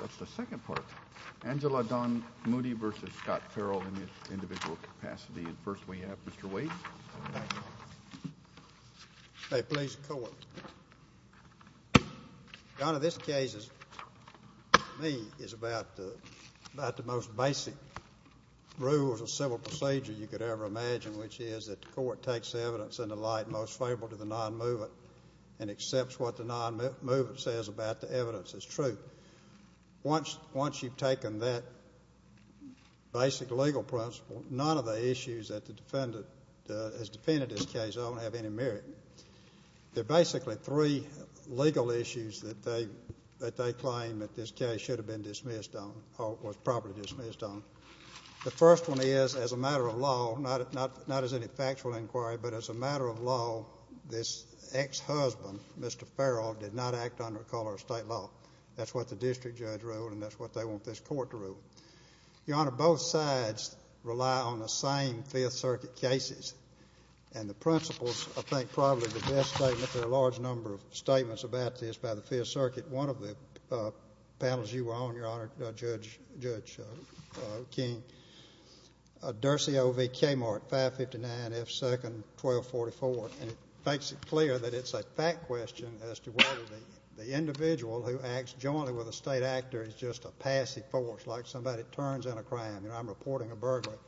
That's the second part. Angela Don Moody v. Scott Farrell in his individual capacity. And first we have Mr. Waits. May it please the Court. Your Honor, this case to me is about the most basic rules of civil procedure you could ever imagine, which is that the Court takes evidence in the light most favorable to the non-movement and accepts what the non-movement says about the evidence as truth. Once you've taken that basic legal principle, none of the issues that the defendant has defended this case on have any merit. There are basically three legal issues that they claim that this case should have been dismissed on or was properly dismissed on. The first one is, as a matter of law, not as any factual inquiry, but as a matter of law, this ex-husband, Mr. Farrell, did not act under color of state law. That's what the district judge ruled, and that's what they want this Court to rule. Your Honor, both sides rely on the same Fifth Circuit cases. And the principles, I think, probably the best statement, there are a large number of statements about this by the Fifth Circuit. One of the panels you were on, Your Honor, Judge King, Dursey O.V. Kmart, 559 F. 2nd, 1244, and it makes it clear that it's a fact question as to whether the individual who acts jointly with a state actor is just a passive force, like somebody turns in a crime, you know, I'm reporting a burglary,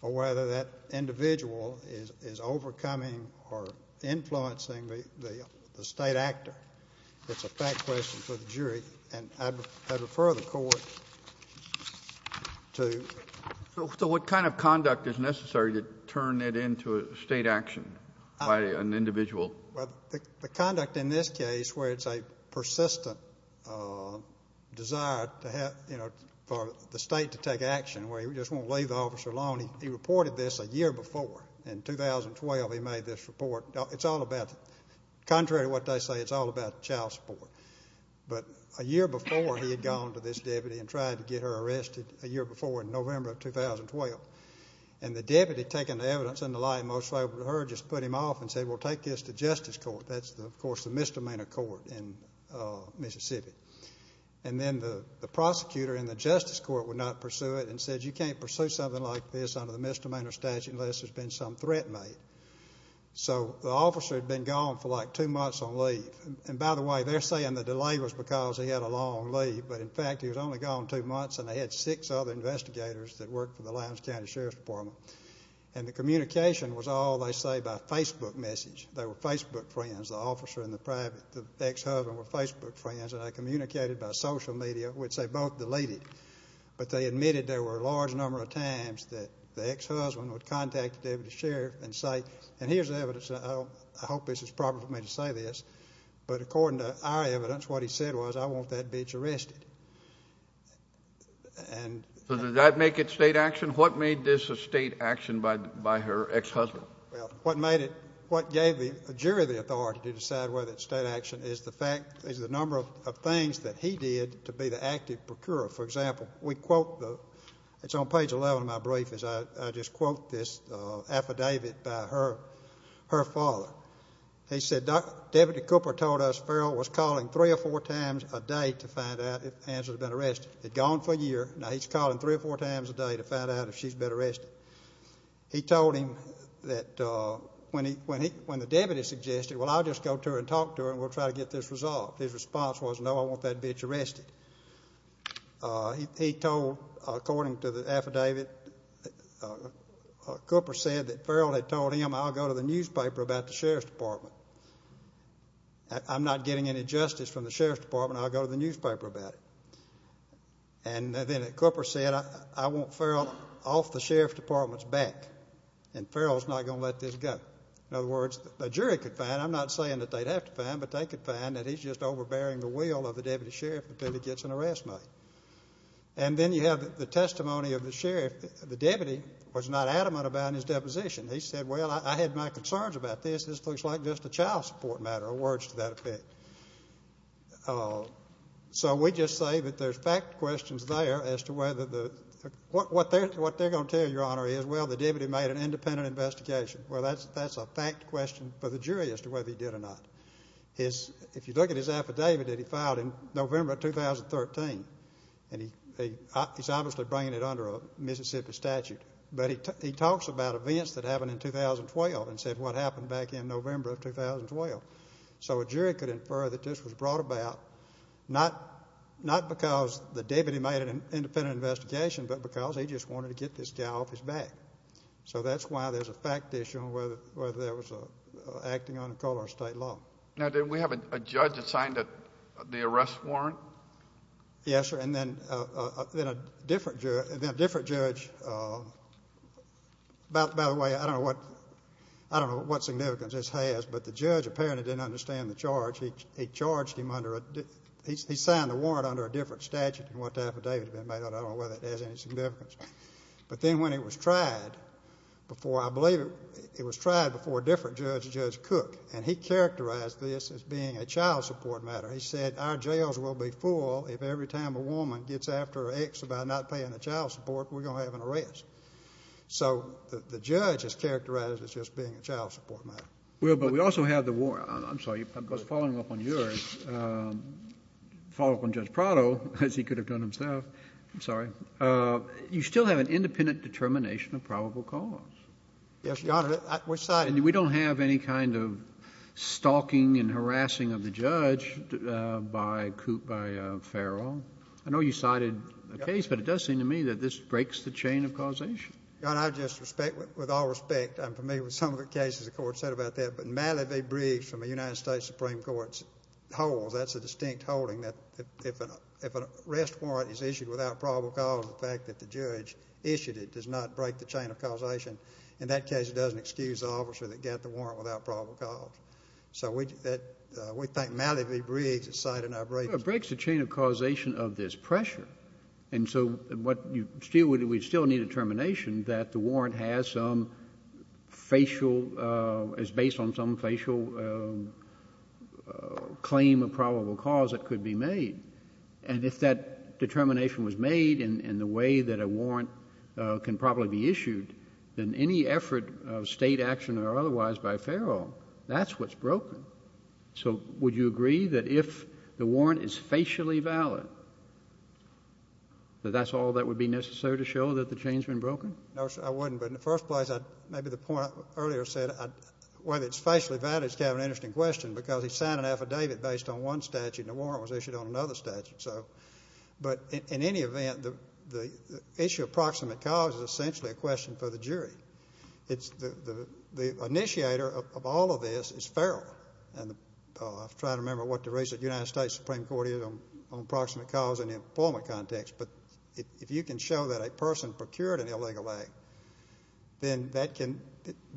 or whether that individual is overcoming or influencing the state actor. It's a fact question for the jury, and I'd refer the Court to. So what kind of conduct is necessary to turn that into a state action by an individual? Well, the conduct in this case where it's a persistent desire to have, you know, for the state to take action, where he just won't leave the officer alone. He reported this a year before. In 2012 he made this report. It's all about, contrary to what they say, it's all about child support. But a year before he had gone to this deputy and tried to get her arrested, a year before in November of 2012, and the deputy, taking the evidence and the lie most liable to her, just put him off and said, well, take this to justice court. That's, of course, the misdemeanor court in Mississippi. And then the prosecutor in the justice court would not pursue it and said, you can't pursue something like this under the misdemeanor statute unless there's been some threat made. So the officer had been gone for like two months on leave. And, by the way, they're saying the delay was because he had a long leave. But, in fact, he was only gone two months, and they had six other investigators that worked for the Lowndes County Sheriff's Department. And the communication was all, they say, by Facebook message. They were Facebook friends, the officer and the ex-husband were Facebook friends, and they communicated by social media, which they both deleted. But they admitted there were a large number of times that the ex-husband would contact the deputy sheriff and say, and here's the evidence, and I hope this is proper for me to say this, but according to our evidence, what he said was, I want that bitch arrested. So did that make it state action? What made this a state action by her ex-husband? Well, what made it, what gave the jury the authority to decide whether it's state action is the fact, is the number of things that he did to be the active procurer. For example, we quote, it's on page 11 of my brief, is I just quote this affidavit by her father. He said, Deputy Cooper told us Farrell was calling three or four times a day to find out if Angela had been arrested. Had gone for a year. Now he's calling three or four times a day to find out if she's been arrested. He told him that when the deputy suggested, well, I'll just go to her and talk to her, and we'll try to get this resolved. His response was, no, I want that bitch arrested. He told, according to the affidavit, Cooper said that Farrell had told him, I'll go to the newspaper about the sheriff's department. I'm not getting any justice from the sheriff's department. I'll go to the newspaper about it. And then Cooper said, I want Farrell off the sheriff's department's back, and Farrell's not going to let this go. In other words, the jury could find, I'm not saying that they'd have to find, but they could find that he's just overbearing the will of the deputy sheriff until he gets an arrest made. And then you have the testimony of the sheriff. The deputy was not adamant about his deposition. He said, well, I had my concerns about this. This looks like just a child support matter, or words to that effect. So we just say that there's fact questions there as to whether the, what they're going to tell you, Your Honor, is, well, the deputy made an independent investigation. Well, that's a fact question for the jury as to whether he did or not. If you look at his affidavit that he filed in November of 2013, and he's obviously bringing it under a Mississippi statute, but he talks about events that happened in 2012 and said what happened back in November of 2012. So a jury could infer that this was brought about not because the deputy made an independent investigation, but because he just wanted to get this guy off his back. So that's why there's a fact issue on whether there was acting on the color of state law. Now, didn't we have a judge that signed the arrest warrant? Yes, sir. And then a different judge, by the way, I don't know what significance this has, but the judge apparently didn't understand the charge. He charged him under a, he signed the warrant under a different statute than what the affidavit had been made under. I don't know whether it has any significance. But then when it was tried before, I believe it was tried before a different judge, Judge Cook, and he characterized this as being a child support matter. He said our jails will be full if every time a woman gets after her ex about not paying the child support, we're going to have an arrest. So the judge has characterized it as just being a child support matter. Well, but we also have the warrant. I'm sorry, following up on yours, following up on Judge Prado, as he could have done himself. I'm sorry. You still have an independent determination of probable cause. Yes, Your Honor. And we don't have any kind of stalking and harassing of the judge by Coop, by Farrell. I know you cited a case, but it does seem to me that this breaks the chain of causation. Your Honor, I just respect, with all respect, and for me with some of the cases the Court said about that, but Malivie Briggs from the United States Supreme Court holds, that's a distinct holding, that if an arrest warrant is issued without probable cause, the fact that the judge issued it does not break the chain of causation. In that case, it doesn't excuse the officer that got the warrant without probable cause. So we think Malivie Briggs has cited our breakage. It breaks the chain of causation of this pressure. And so we still need a determination that the warrant has some facial, is based on some facial claim of probable cause that could be made. And if that determination was made in the way that a warrant can probably be issued, then any effort of State action or otherwise by Farrell, that's what's broken. So would you agree that if the warrant is facially valid, that that's all that would be necessary to show that the chain has been broken? No, sir, I wouldn't. But in the first place, maybe the point I earlier said, whether it's facially valid is kind of an interesting question because he signed an affidavit based on one statute and the warrant was issued on another statute. But in any event, the issue of proximate cause is essentially a question for the jury. The initiator of all of this is Farrell. And I've tried to remember what the reason the United States Supreme Court is on proximate cause in the employment context. But if you can show that a person procured an illegal act, then that can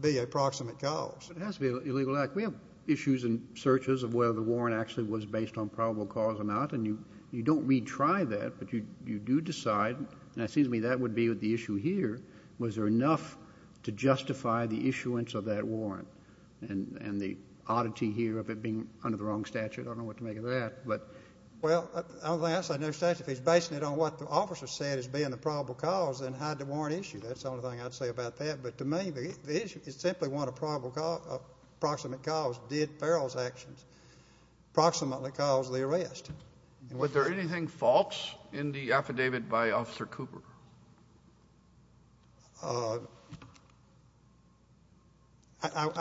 be a proximate cause. It has to be an illegal act. We have issues and searches of whether the warrant actually was based on probable cause or not. And you don't retry that, but you do decide. And it seems to me that would be the issue here. Was there enough to justify the issuance of that warrant? And the oddity here of it being under the wrong statute, I don't know what to make of that. Well, I don't think I saw no statute. If he's basing it on what the officer said as being the probable cause, then hide the warrant issue. That's the only thing I'd say about that. But to me, the issue is simply one of probable cause, proximate cause, did Farrell's actions proximately cause the arrest. Was there anything false in the affidavit by Officer Cooper? I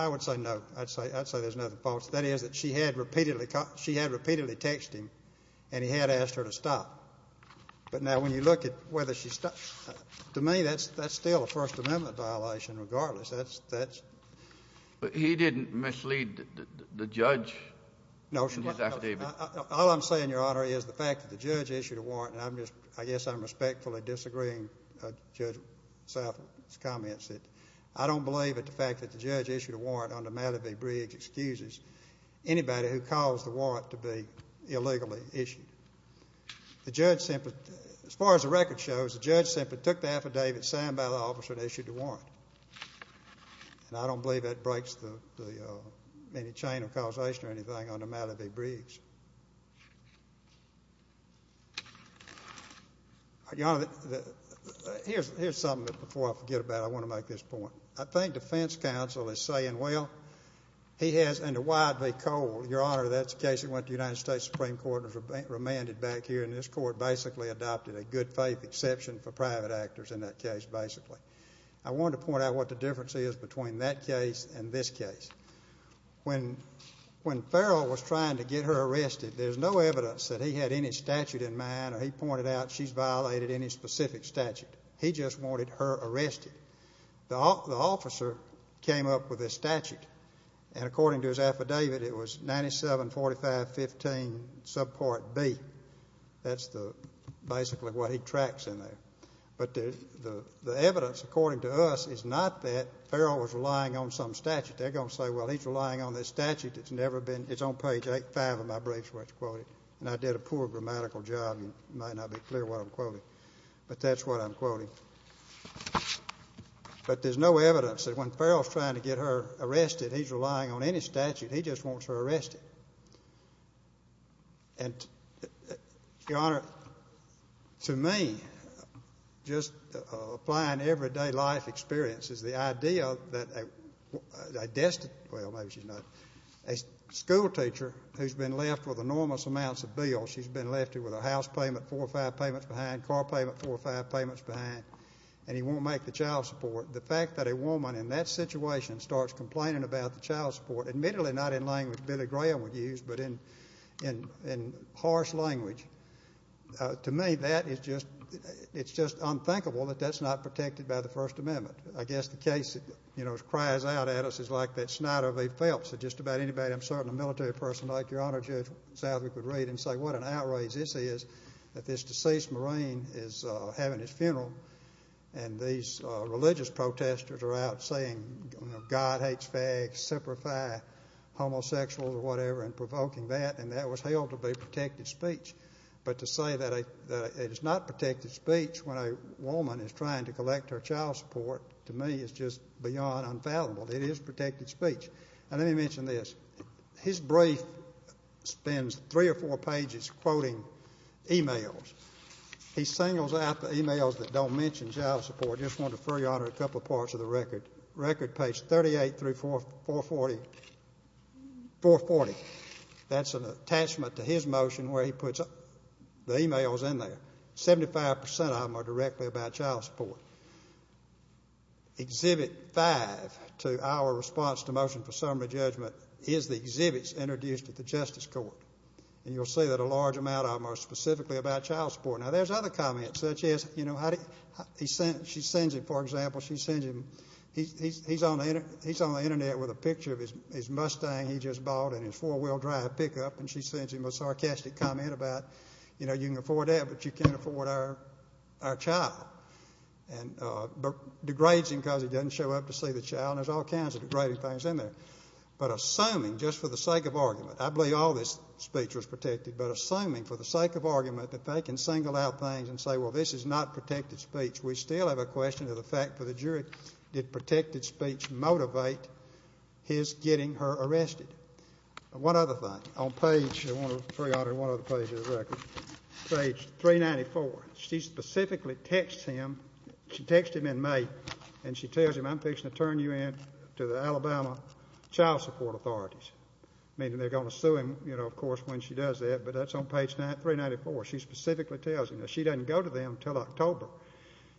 would say no. I'd say there's nothing false. That is, that she had repeatedly texted him and he had asked her to stop. But now when you look at whether she stopped, to me that's still a First Amendment violation regardless. But he didn't mislead the judge in his affidavit. No, all I'm saying, Your Honor, is the fact that the judge issued a warrant, and I guess I'm respectfully disagreeing with Judge Salford's comments, that I don't believe that the fact that the judge issued a warrant under Malibu Briggs excuses anybody who caused the warrant to be illegally issued. As far as the record shows, the judge simply took the affidavit signed by the officer that issued the warrant, and I don't believe that breaks any chain of causation or anything under Malibu Briggs. Your Honor, here's something that before I forget about, I want to make this point. I think defense counsel is saying, well, he has under Wyde v. Cole, Your Honor, that's the case that went to the United States Supreme Court and was remanded back here, and this court basically adopted a good faith exception for private actors in that case basically. I wanted to point out what the difference is between that case and this case. When Farrell was trying to get her arrested, there's no evidence that he had any statute in mind, or he pointed out she's violated any specific statute. He just wanted her arrested. The officer came up with this statute, and according to his affidavit, it was 974515 subpart B. That's basically what he tracks in there. But the evidence, according to us, is not that Farrell was relying on some statute. They're going to say, well, he's relying on this statute that's never been. It's on page 8-5 of my briefs where it's quoted, and I did a poor grammatical job, and it might not be clear what I'm quoting, but that's what I'm quoting. But there's no evidence that when Farrell's trying to get her arrested, he's relying on any statute. He just wants her arrested. And, Your Honor, to me, just applying everyday life experiences, the idea that a school teacher who's been left with enormous amounts of bills, she's been left with her house payment four or five payments behind, car payment four or five payments behind, and he won't make the child support. The fact that a woman in that situation starts complaining about the child support, admittedly not in language Billy Graham would use, but in harsh language, to me that is just unthinkable that that's not protected by the First Amendment. I guess the case, you know, that cries out at us is like that Snider v. Phelps. Just about anybody, I'm certain, a military person like Your Honor, Judge Southwick, would read and say what an outrage this is that this deceased Marine is having his funeral, and these religious protesters are out saying, you know, God hates fags, separify homosexuals or whatever and provoking that, and that was held to be protected speech. But to say that it is not protected speech when a woman is trying to collect her child support, to me is just beyond unfathomable. It is protected speech. And let me mention this. His brief spends three or four pages quoting e-mails. He singles out the e-mails that don't mention child support. I just want to defer, Your Honor, a couple of parts of the record. Record page 38 through 440. That's an attachment to his motion where he puts the e-mails in there. Seventy-five percent of them are directly about child support. Exhibit five to our response to motion for summary judgment is the exhibits introduced at the Justice Court. And you'll see that a large amount of them are specifically about child support. Now, there's other comments, such as, you know, she sends him, for example, she sends him, he's on the Internet with a picture of his Mustang he just bought and his four-wheel drive pickup, and she sends him a sarcastic comment about, you know, you can afford that, but you can't afford our child. And degrades him because he doesn't show up to see the child. There's all kinds of degrading things in there. But assuming, just for the sake of argument, I believe all this speech was protected, but assuming for the sake of argument that they can single out things and say, well, this is not protected speech, we still have a question of the fact for the jury, did protected speech motivate his getting her arrested? One other thing. On page, Your Honor, one other page of the record. Page 394. She specifically texts him. She texts him in May, and she tells him, I'm fixing to turn you in to the Alabama Child Support Authorities. Meaning they're going to sue him, you know, of course, when she does that, but that's on page 394. She specifically tells him. Now, she doesn't go to them until October,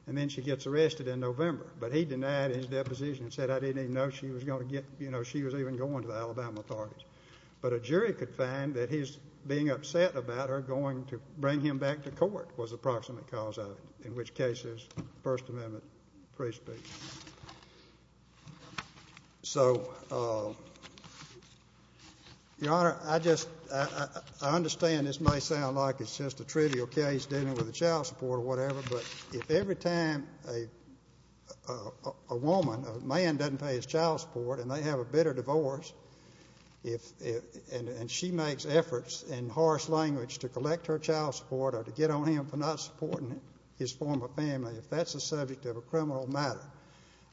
and then she gets arrested in November. But he denied his deposition and said, I didn't even know she was going to get, you know, she was even going to the Alabama authorities. But a jury could find that his being upset about her going to bring him back to court was the approximate cause of it, in which case it's First Amendment free speech. So, Your Honor, I just, I understand this may sound like it's just a trivial case dealing with the child support or whatever, but if every time a woman, a man doesn't pay his child support and they have a bitter divorce, and she makes efforts in harsh language to collect her child support or to get on him for not supporting his former family, if that's the subject of a criminal matter,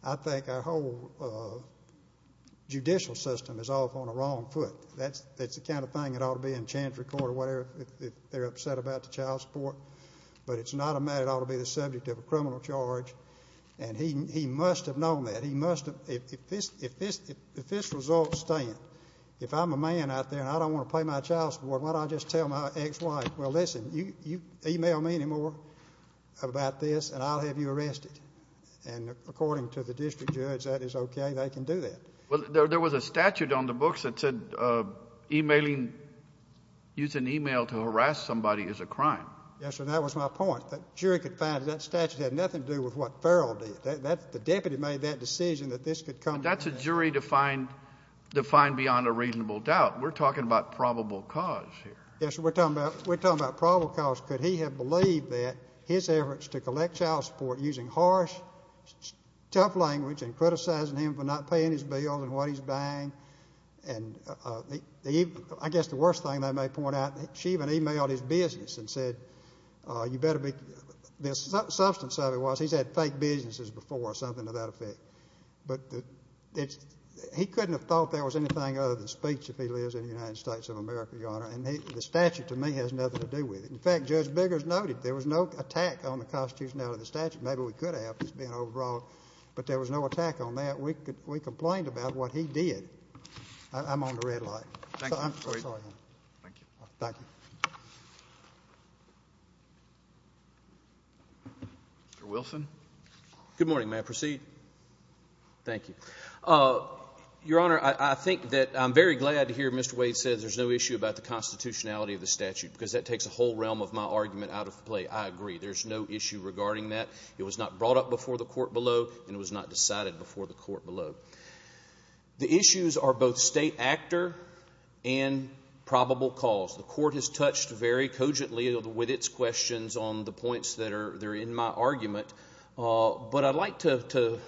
I think our whole judicial system is off on the wrong foot. That's the kind of thing that ought to be in chance record or whatever if they're upset about the child support. But it's not a matter that ought to be the subject of a criminal charge. And he must have known that. He must have. If this results stand, if I'm a man out there and I don't want to pay my child support, why don't I just tell my ex-wife, well, listen, you email me anymore about this and I'll have you arrested. And according to the district judge, that is okay. They can do that. Well, there was a statute on the books that said emailing, using email to harass somebody is a crime. Yes, sir. That was my point. The jury could find that that statute had nothing to do with what Farrell did. The deputy made that decision that this could come. But that's a jury defined beyond a reasonable doubt. We're talking about probable cause here. Yes, sir. We're talking about probable cause. Could he have believed that his efforts to collect child support using harsh, tough language and criticizing him for not paying his bills and what he's buying, and I guess the worst thing they may point out, she even emailed his business and said, you better be, the substance of it was he's had fake businesses before or something to that effect. But he couldn't have thought there was anything other than speech if he lives in the United States of America, Your Honor. And the statute, to me, has nothing to do with it. In fact, Judge Biggers noted there was no attack on the constitutionality of the statute. Maybe we could have just being over-broad, but there was no attack on that. We complained about what he did. I'm on the red light. Thank you. Thank you. Mr. Wilson. Good morning. May I proceed? Thank you. Your Honor, I think that I'm very glad to hear Mr. Wade say there's no issue about the constitutionality of the statute because that takes a whole realm of my argument out of play. I agree. There's no issue regarding that. It was not brought up before the court below, and it was not decided before the court below. The issues are both state actor and probable cause. The court has touched very cogently with its questions on the points that are in my argument. But I'd like to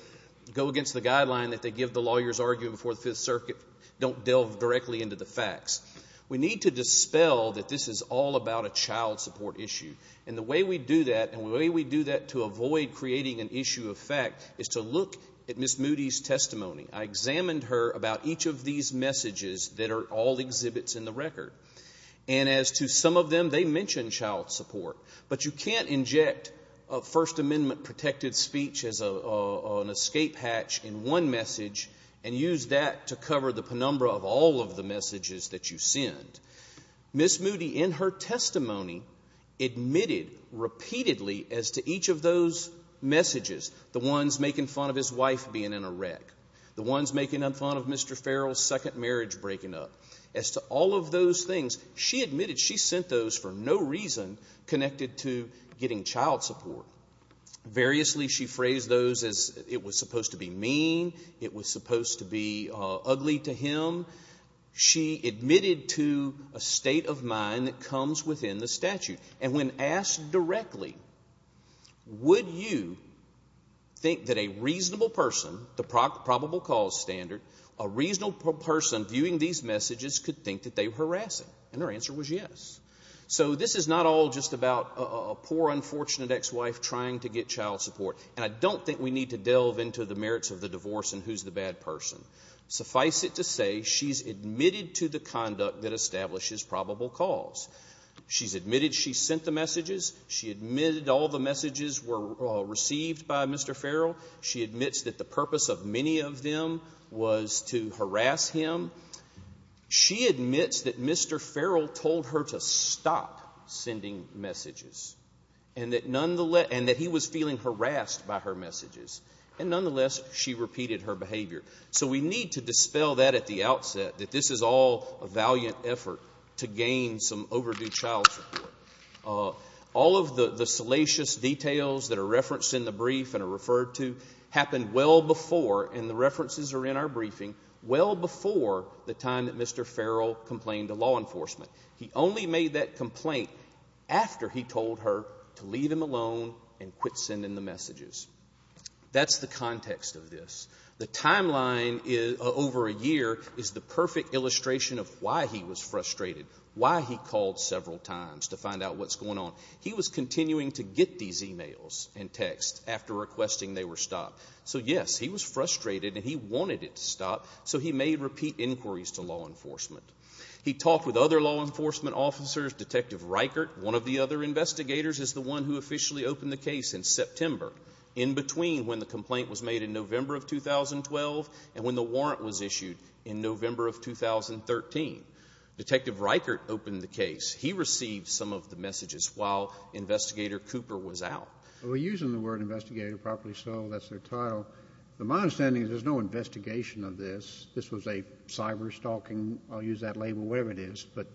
go against the guideline that they give the lawyers' argument before the Fifth Circuit, don't delve directly into the facts. We need to dispel that this is all about a child support issue. And the way we do that, and the way we do that to avoid creating an issue of fact, is to look at Ms. Moody's testimony. I examined her about each of these messages that are all exhibits in the record. And as to some of them, they mention child support. But you can't inject a First Amendment protected speech as an escape hatch in one message and use that to cover the penumbra of all of the messages that you send. Ms. Moody, in her testimony, admitted repeatedly as to each of those messages, the ones making fun of his wife being in a wreck, the ones making fun of Mr. Farrell's second marriage breaking up. As to all of those things, she admitted she sent those for no reason connected to getting child support. Variously, she phrased those as it was supposed to be mean, it was supposed to be ugly to him. She admitted to a state of mind that comes within the statute. And when asked directly, would you think that a reasonable person, the probable cause standard, a reasonable person viewing these messages could think that they were harassing? And her answer was yes. So this is not all just about a poor, unfortunate ex-wife trying to get child support. And I don't think we need to delve into the merits of the divorce and who's the bad person. Suffice it to say, she's admitted to the conduct that establishes probable cause. She's admitted she sent the messages. She admitted all the messages were received by Mr. Farrell. She admits that the purpose of many of them was to harass him. She admits that Mr. Farrell told her to stop sending messages, and that nonetheless he was feeling harassed by her messages. And nonetheless, she repeated her behavior. So we need to dispel that at the outset, that this is all a valiant effort to gain some overdue child support. All of the salacious details that are referenced in the brief and are referred to happened well before, and the references are in our briefing, well before the time that Mr. Farrell complained to law enforcement. He only made that complaint after he told her to leave him alone and quit sending the messages. That's the context of this. The timeline over a year is the perfect illustration of why he was frustrated, why he called several times to find out what's going on. He was continuing to get these e-mails and texts after requesting they were stopped. So, yes, he was frustrated, and he wanted it to stop, so he made repeat inquiries to law enforcement. He talked with other law enforcement officers. Detective Reichert, one of the other investigators, is the one who officially opened the case in September, in between when the complaint was made in November of 2012 and when the warrant was issued in November of 2013. Detective Reichert opened the case. He received some of the messages while Investigator Cooper was out. We're using the word investigator properly, so that's their title. But my understanding is there's no investigation of this. This was a cyberstalking, I'll use that label, whatever it is. But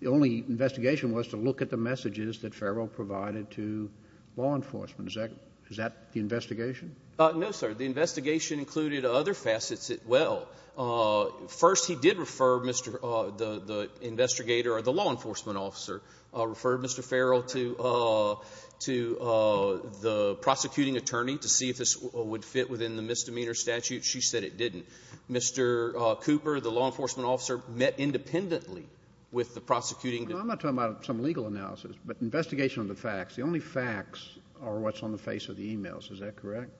the only investigation was to look at the messages that Farrell provided to law enforcement. Is that the investigation? No, sir. The investigation included other facets as well. First, he did refer Mr. — the investigator, or the law enforcement officer, referred Mr. Farrell to the prosecuting attorney to see if this would fit within the misdemeanor statute. She said it didn't. Mr. Cooper, the law enforcement officer, met independently with the prosecuting — I'm not talking about some legal analysis, but investigation of the facts. The only facts are what's on the face of the emails. Is that correct?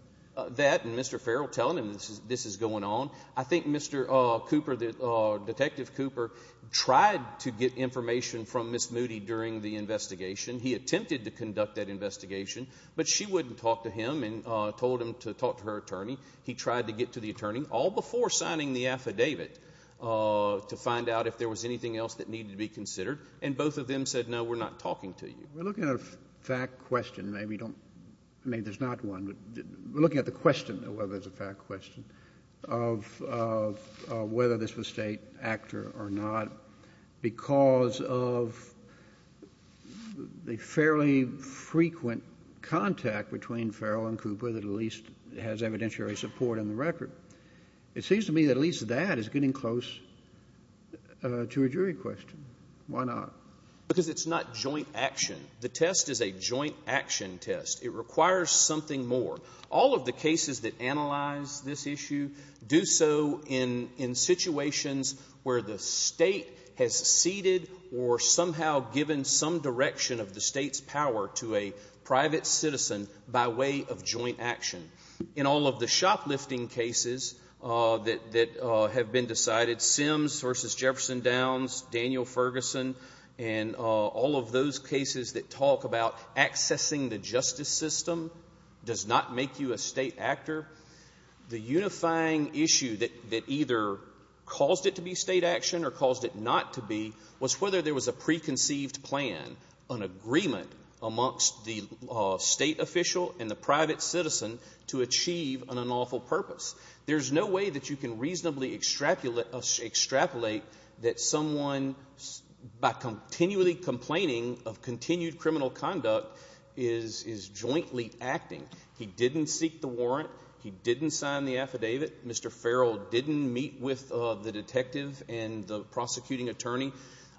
That, and Mr. Farrell telling him this is going on. I think Mr. Cooper, Detective Cooper, tried to get information from Ms. Moody during the investigation. He attempted to conduct that investigation, but she wouldn't talk to him and told him to talk to her attorney. He tried to get to the attorney, all before signing the affidavit, to find out if there was anything else that needed to be considered. And both of them said, no, we're not talking to you. We're looking at a fact question. Maybe you don't — maybe there's not one. We're looking at the question, though, whether it's a fact question, of whether this was State actor or not. Because of the fairly frequent contact between Farrell and Cooper that at least has evidentiary support in the record. It seems to me that at least that is getting close to a jury question. Why not? Because it's not joint action. The test is a joint action test. It requires something more. All of the cases that analyze this issue do so in situations where the State has ceded or somehow given some direction of the State's power to a private citizen by way of joint action. In all of the shoplifting cases that have been decided, Sims versus Jefferson Downs, Daniel Ferguson, and all of those cases that talk about accessing the justice system does not make you a State actor. The unifying issue that either caused it to be State action or caused it not to be was whether there was a preconceived plan, an agreement amongst the State official and the private citizen to achieve an unlawful purpose. There's no way that you can reasonably extrapolate that someone, by continually complaining of continued criminal conduct, is jointly acting. He didn't seek the warrant. He didn't sign the affidavit. Mr. Farrell didn't meet with the detective and the prosecuting attorney.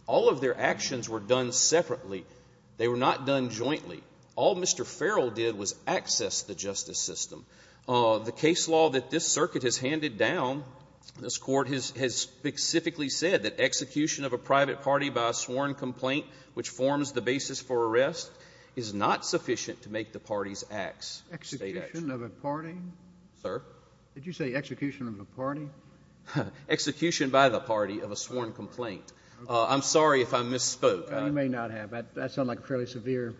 All of their actions were done separately. They were not done jointly. All Mr. Farrell did was access the justice system. The case law that this Circuit has handed down, this Court has specifically said that execution of a private party by a sworn complaint, which forms the basis for arrest, is not sufficient to make the party's acts State action. Execution of a party? Sir? Did you say execution of a party? Execution by the party of a sworn complaint. I'm sorry if I misspoke. You may not have. That sounds like a fairly severe.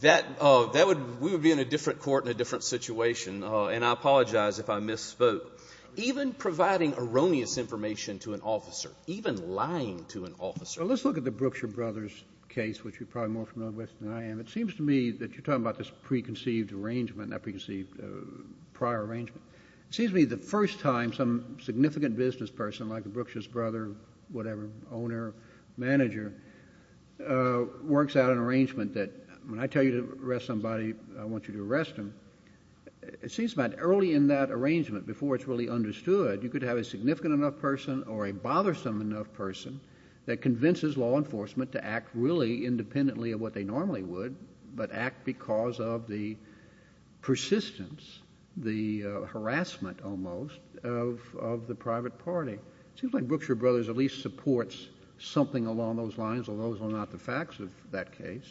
That would be in a different court in a different situation, and I apologize if I misspoke. Even providing erroneous information to an officer, even lying to an officer. Well, let's look at the Brookshire Brothers case, which you're probably more familiar with than I am. It seems to me that you're talking about this preconceived arrangement, not preconceived prior arrangement. It seems to me the first time some significant business person, like a Brookshire's brother, whatever, owner, manager, works out an arrangement that when I tell you to arrest somebody, I want you to arrest them, it seems about early in that arrangement, before it's really understood, you could have a significant enough person or a bothersome enough person that convinces law enforcement to act really independently of what they normally would, but act because of the persistence, the harassment almost, of the private party. It seems like Brookshire Brothers at least supports something along those lines, although those are not the facts of that case.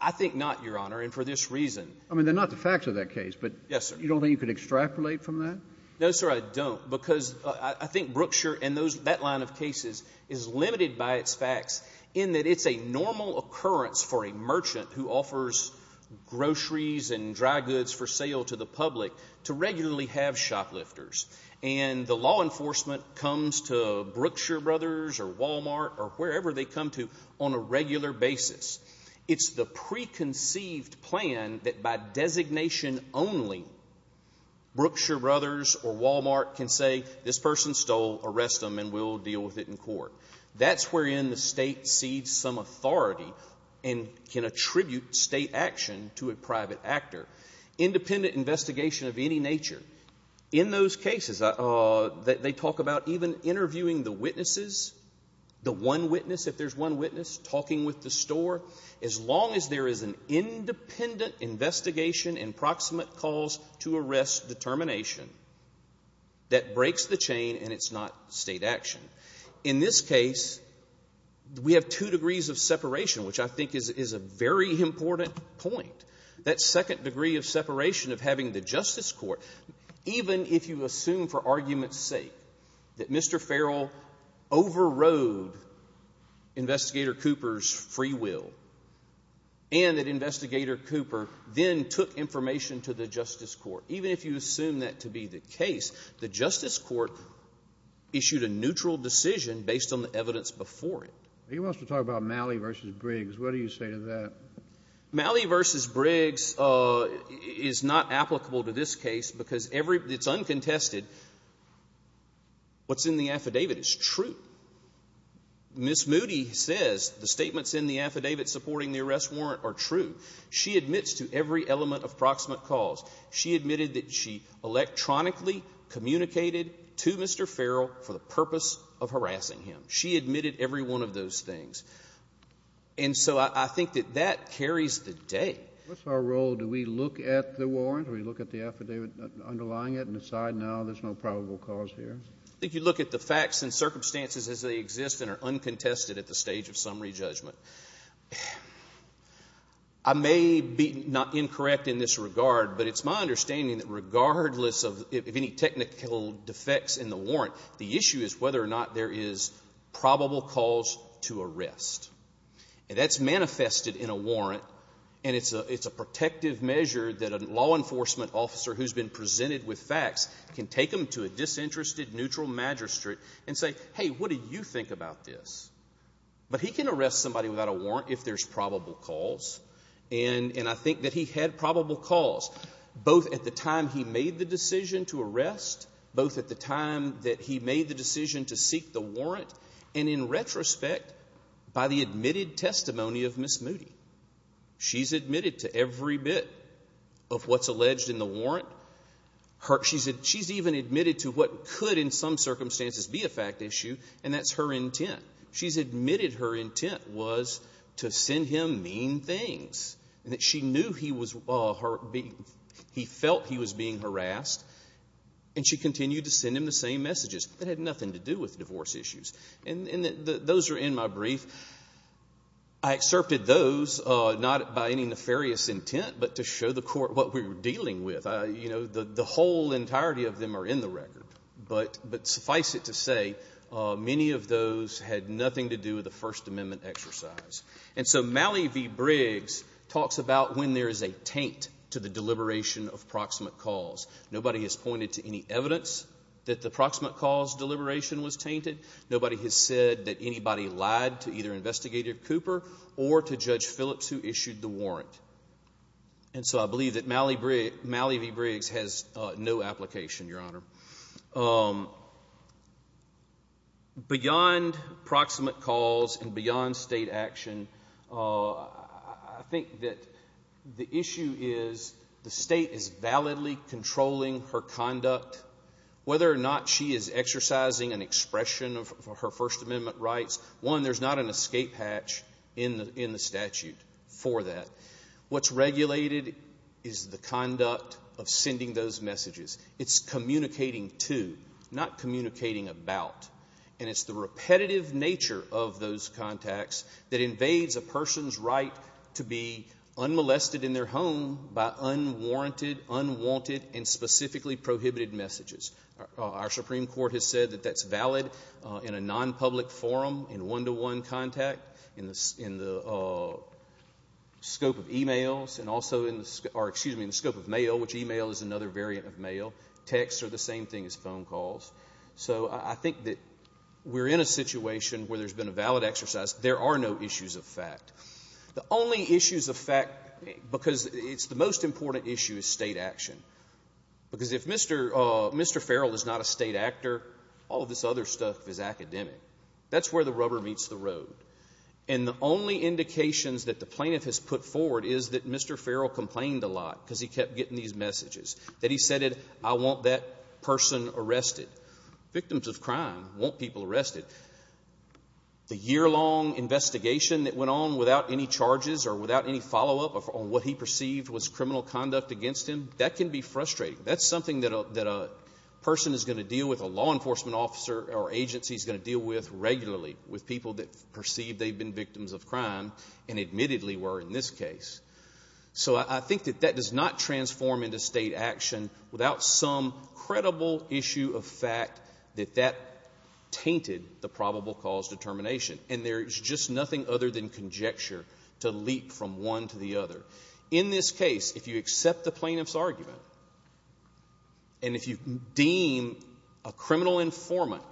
I think not, Your Honor, and for this reason. I mean, they're not the facts of that case. Yes, sir. But you don't think you could extrapolate from that? No, sir, I don't, because I think Brookshire and that line of cases is limited by its facts in that it's a normal occurrence for a merchant who offers groceries and dry goods for sale to the public to regularly have shoplifters, and the law enforcement comes to Brookshire Brothers or Walmart or wherever they come to on a regular basis. It's the preconceived plan that by designation only, Brookshire Brothers or Walmart can say, this person stole, arrest them, and we'll deal with it in court. That's wherein the state cedes some authority and can attribute state action to a private actor. Independent investigation of any nature. In those cases, they talk about even interviewing the witnesses, the one witness, if there's one witness, talking with the store, as long as there is an independent investigation and proximate cause to arrest determination, that breaks the chain and it's not state action. In this case, we have two degrees of separation, which I think is a very important point. That second degree of separation of having the justice court, even if you assume for argument's sake that Mr. Farrell overrode Investigator Cooper's free will and that Investigator Cooper then took information to the justice court, even if you assume that to be the case, the justice court issued a neutral decision based on the evidence before it. He wants to talk about Malley v. Briggs. What do you say to that? Malley v. Briggs is not applicable to this case because it's uncontested. What's in the affidavit is true. Ms. Moody says the statements in the affidavit supporting the arrest warrant are true. She admits to every element of proximate cause. She admitted that she electronically communicated to Mr. Farrell for the purpose of harassing him. She admitted every one of those things. And so I think that that carries the day. What's our role? Do we look at the warrant? Do we look at the affidavit underlying it and decide now there's no probable cause here? I think you look at the facts and circumstances as they exist and are uncontested at the stage of summary judgment. I may be not incorrect in this regard, but it's my understanding that regardless of any technical defects in the warrant, the issue is whether or not there is probable cause to arrest. And that's manifested in a warrant, and it's a protective measure that a law enforcement officer who's been presented with facts can take them to a disinterested neutral magistrate and say, hey, what do you think about this? But he can arrest somebody without a warrant if there's probable cause, and I think that he had probable cause both at the time he made the decision to arrest, both at the time that he made the decision to seek the warrant, and in retrospect by the admitted testimony of Ms. Moody. She's admitted to every bit of what's alleged in the warrant. She's even admitted to what could in some circumstances be a fact issue, and that's her intent. She's admitted her intent was to send him mean things, and that she knew he felt he was being harassed, and she continued to send him the same messages that had nothing to do with divorce issues. And those are in my brief. I excerpted those, not by any nefarious intent, but to show the Court what we were dealing with. You know, the whole entirety of them are in the record. But suffice it to say, many of those had nothing to do with the First Amendment exercise. And so Malley v. Briggs talks about when there is a taint to the deliberation of proximate cause. Nobody has pointed to any evidence that the proximate cause deliberation was tainted. Nobody has said that anybody lied to either Investigator Cooper or to Judge Phillips who issued the warrant. And so I believe that Malley v. Briggs has no application, Your Honor. Beyond proximate cause and beyond State action, I think that the issue is the State is validly controlling her conduct. Whether or not she is exercising an expression of her First Amendment rights, one, there's not an escape hatch in the statute for that. What's regulated is the conduct of sending those messages. It's communicating to, not communicating about. And it's the repetitive nature of those contacts that invades a person's right to be unmolested in their home by unwarranted, unwanted, and specifically prohibited messages. Our Supreme Court has said that that's valid in a nonpublic forum, in one-to-one contact, in the scope of emails and also in the scope of mail, which email is another variant of mail. Texts are the same thing as phone calls. So I think that we're in a situation where there's been a valid exercise. There are no issues of fact. The only issues of fact, because it's the most important issue, is State action. Because if Mr. Farrell is not a State actor, all of this other stuff is academic. That's where the rubber meets the road. And the only indications that the plaintiff has put forward is that Mr. Farrell complained a lot because he kept getting these messages, that he said, I want that person arrested. Victims of crime want people arrested. The year-long investigation that went on without any charges or without any follow-up on what he perceived was criminal conduct against him, that can be frustrating. That's something that a person is going to deal with, a law enforcement officer or agency is going to deal with regularly, with people that perceive they've been victims of crime and admittedly were in this case. So I think that that does not transform into State action without some credible issue of fact that that tainted the probable cause determination. And there's just nothing other than conjecture to leap from one to the other. In this case, if you accept the plaintiff's argument and if you deem a criminal informant,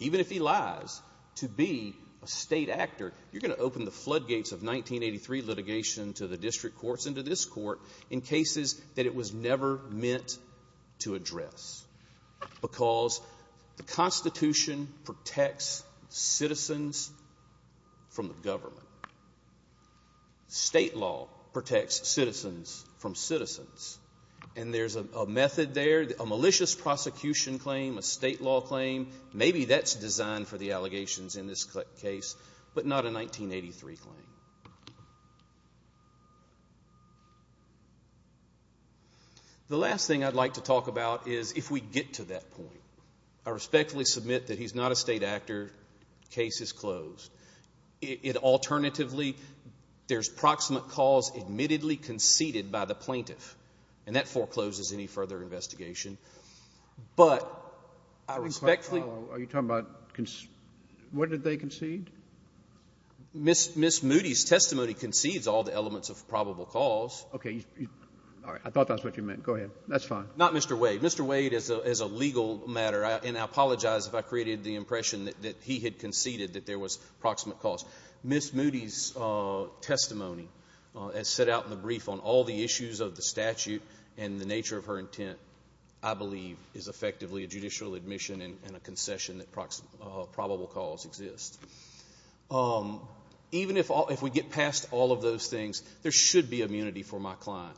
even if he lies, to be a State actor, you're going to open the floodgates of 1983 litigation to the district courts and to this court in cases that it was never meant to address. Because the Constitution protects citizens from the government. State law protects citizens from citizens. And there's a method there, a malicious prosecution claim, a State law claim, maybe that's designed for the allegations in this case, but not a 1983 claim. The last thing I'd like to talk about is if we get to that point. I respectfully submit that he's not a State actor. Case is closed. Alternatively, there's proximate cause admittedly conceded by the plaintiff, and that forecloses any further investigation. But I respectfully — Are you talking about — what did they concede? Ms. Moody's testimony concedes all the elements of probable cause. Okay. All right. I thought that's what you meant. Go ahead. That's fine. Not Mr. Wade. Mr. Wade, as a legal matter, and I apologize if I created the impression that he had proximate cause, Ms. Moody's testimony, as set out in the brief, on all the issues of the statute and the nature of her intent, I believe, is effectively a judicial admission and a concession that probable cause exists. Even if we get past all of those things, there should be immunity for my client.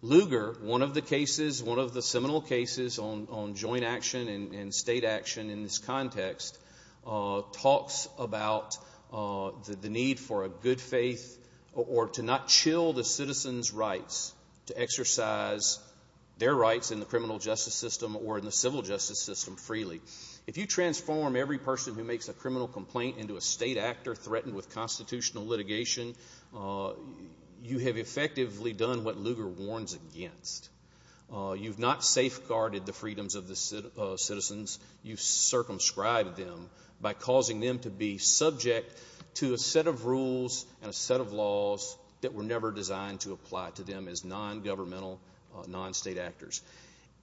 Lugar, one of the cases, one of the seminal cases on joint action and State action in this context, talks about the need for a good faith or to not chill the citizens' rights to exercise their rights in the criminal justice system or in the civil justice system freely. If you transform every person who makes a criminal complaint into a State actor threatened with constitutional litigation, you have effectively done what Lugar warns against. You've not safeguarded the freedoms of the citizens. You've circumscribed them by causing them to be subject to a set of rules and a set of laws that were never designed to apply to them as non-governmental, non-State actors.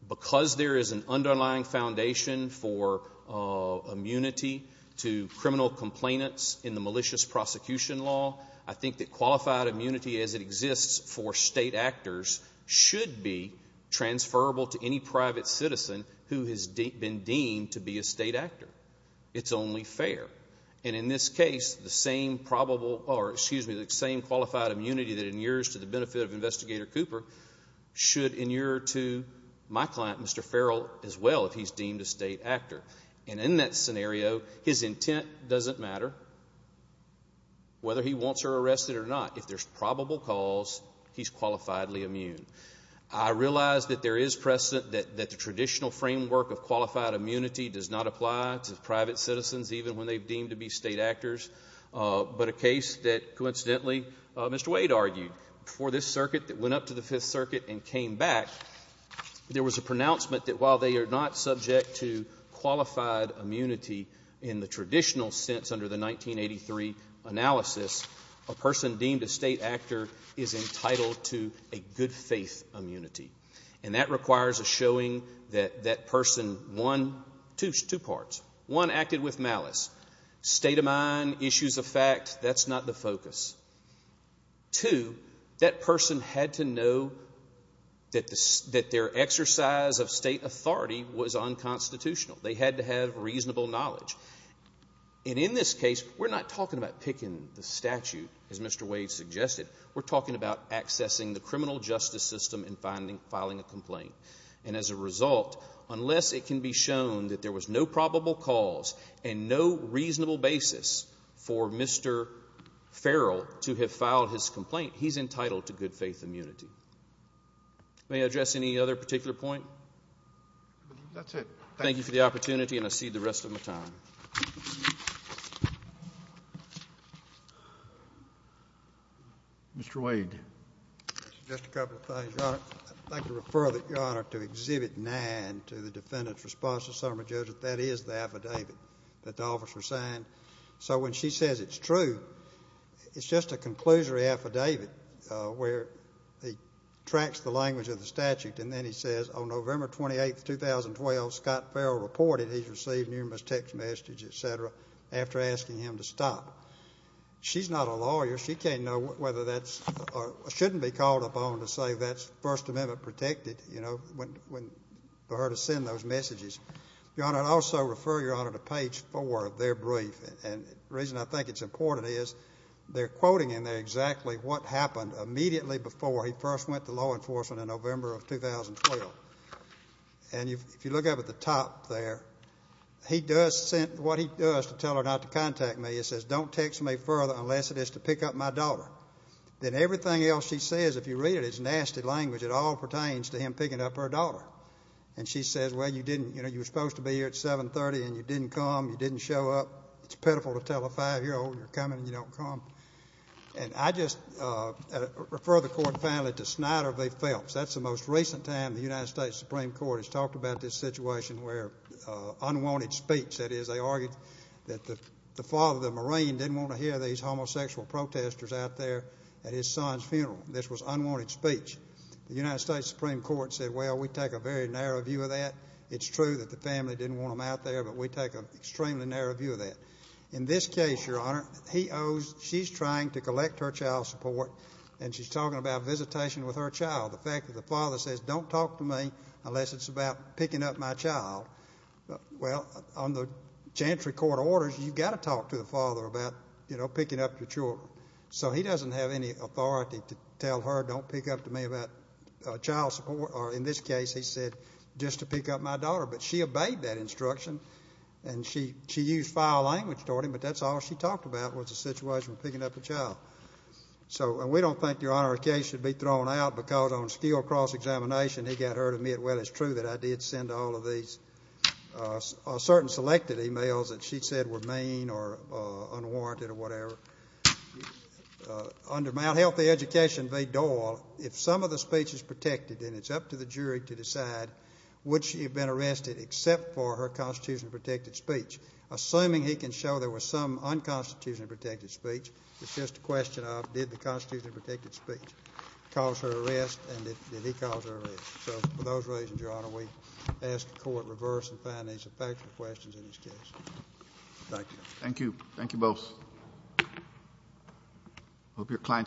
Because there is an underlying foundation for immunity to criminal complainants in the malicious prosecution law, I think that qualified immunity as it exists for State actors should be transferable to any private citizen who has been deemed to be a State actor. It's only fair. And in this case, the same qualified immunity that inures to the benefit of Investigator Cooper should inure to my client, Mr. Farrell, as well if he's deemed a State actor. And in that scenario, his intent doesn't matter whether he wants her arrested or not. If there's probable cause, he's qualifiedly immune. I realize that there is precedent that the traditional framework of qualified immunity does not apply to private citizens, even when they've deemed to be State actors. But a case that, coincidentally, Mr. Wade argued before this circuit that went up to the Fifth Circuit and came back, there was a pronouncement that while they are not subject to qualified immunity in the traditional sense under the 1983 analysis, a person deemed a State actor is entitled to a good faith immunity. And that requires a showing that that person, one, two parts. One, acted with malice. State of mind, issues of fact, that's not the focus. Two, that person had to know that their exercise of State authority was unconstitutional. They had to have reasonable knowledge. And in this case, we're not talking about picking the statute, as Mr. Wade suggested. We're talking about accessing the criminal justice system and filing a complaint. And as a result, unless it can be shown that there was no probable cause and no reasonable basis for Mr. Farrell to have filed his complaint, he's entitled to good faith immunity. May I address any other particular point? That's it. Thank you for the opportunity, and I cede the rest of my time. Mr. Wade. Just a couple of things, Your Honor. I'd like to refer, Your Honor, to Exhibit 9 to the defendant's response to the summary judge that that is the affidavit that the officer signed. So when she says it's true, it's just a conclusory affidavit where he tracks the language of the statute, and then he says, On November 28, 2012, Scott Farrell reported he's received numerous text messages, et cetera, after asking him to stop. She's not a lawyer. She can't know whether that's or shouldn't be called upon to say that's First Amendment protected, you know, for her to send those messages. Your Honor, I'd also refer, Your Honor, to page 4 of their brief. And the reason I think it's important is they're quoting in there exactly what happened immediately before he first went to law enforcement in November of 2012. And if you look up at the top there, he does send what he does to tell her not to contact me. It says, Don't text me further unless it is to pick up my daughter. Then everything else she says, if you read it, is nasty language. It all pertains to him picking up her daughter. And she says, Well, you didn't. You know, you were supposed to be here at 730, and you didn't come. You didn't show up. It's pitiful to tell a five-year-old you're coming and you don't come. And I just refer the court family to Snyder v. Phelps. That's the most recent time the United States Supreme Court has talked about this situation where unwanted speech. That is, they argued that the father of the Marine didn't want to hear these homosexual protesters out there at his son's funeral. This was unwanted speech. The United States Supreme Court said, Well, we take a very narrow view of that. It's true that the family didn't want him out there, but we take an extremely narrow view of that. In this case, Your Honor, he owes, she's trying to collect her child support, and she's talking about visitation with her child. The fact that the father says, Don't talk to me unless it's about picking up my child. Well, on the chantry court orders, you've got to talk to the father about, you know, picking up your children. So he doesn't have any authority to tell her, Don't pick up to me about child support. Or in this case, he said, Just to pick up my daughter. But she obeyed that instruction, and she used foul language toward him, but that's all she talked about was the situation of picking up a child. So we don't think, Your Honor, the case should be thrown out because on skill cross-examination, he got her to admit, Well, it's true that I did send all of these certain selected e-mails that she said were mean or unwarranted or whatever. Under Mt. Healthy Education v. Doyle, if some of the speech is protected, then it's up to the jury to decide would she have been arrested except for her constitutionally protected speech. Assuming he can show there was some unconstitutionally protected speech, it's just a question of did the constitutionally protected speech cause her arrest and did he cause her arrest. So for those reasons, Your Honor, we ask the court reverse and find these factual questions in this case. Thank you. Thank you. Thank you both. I hope your client-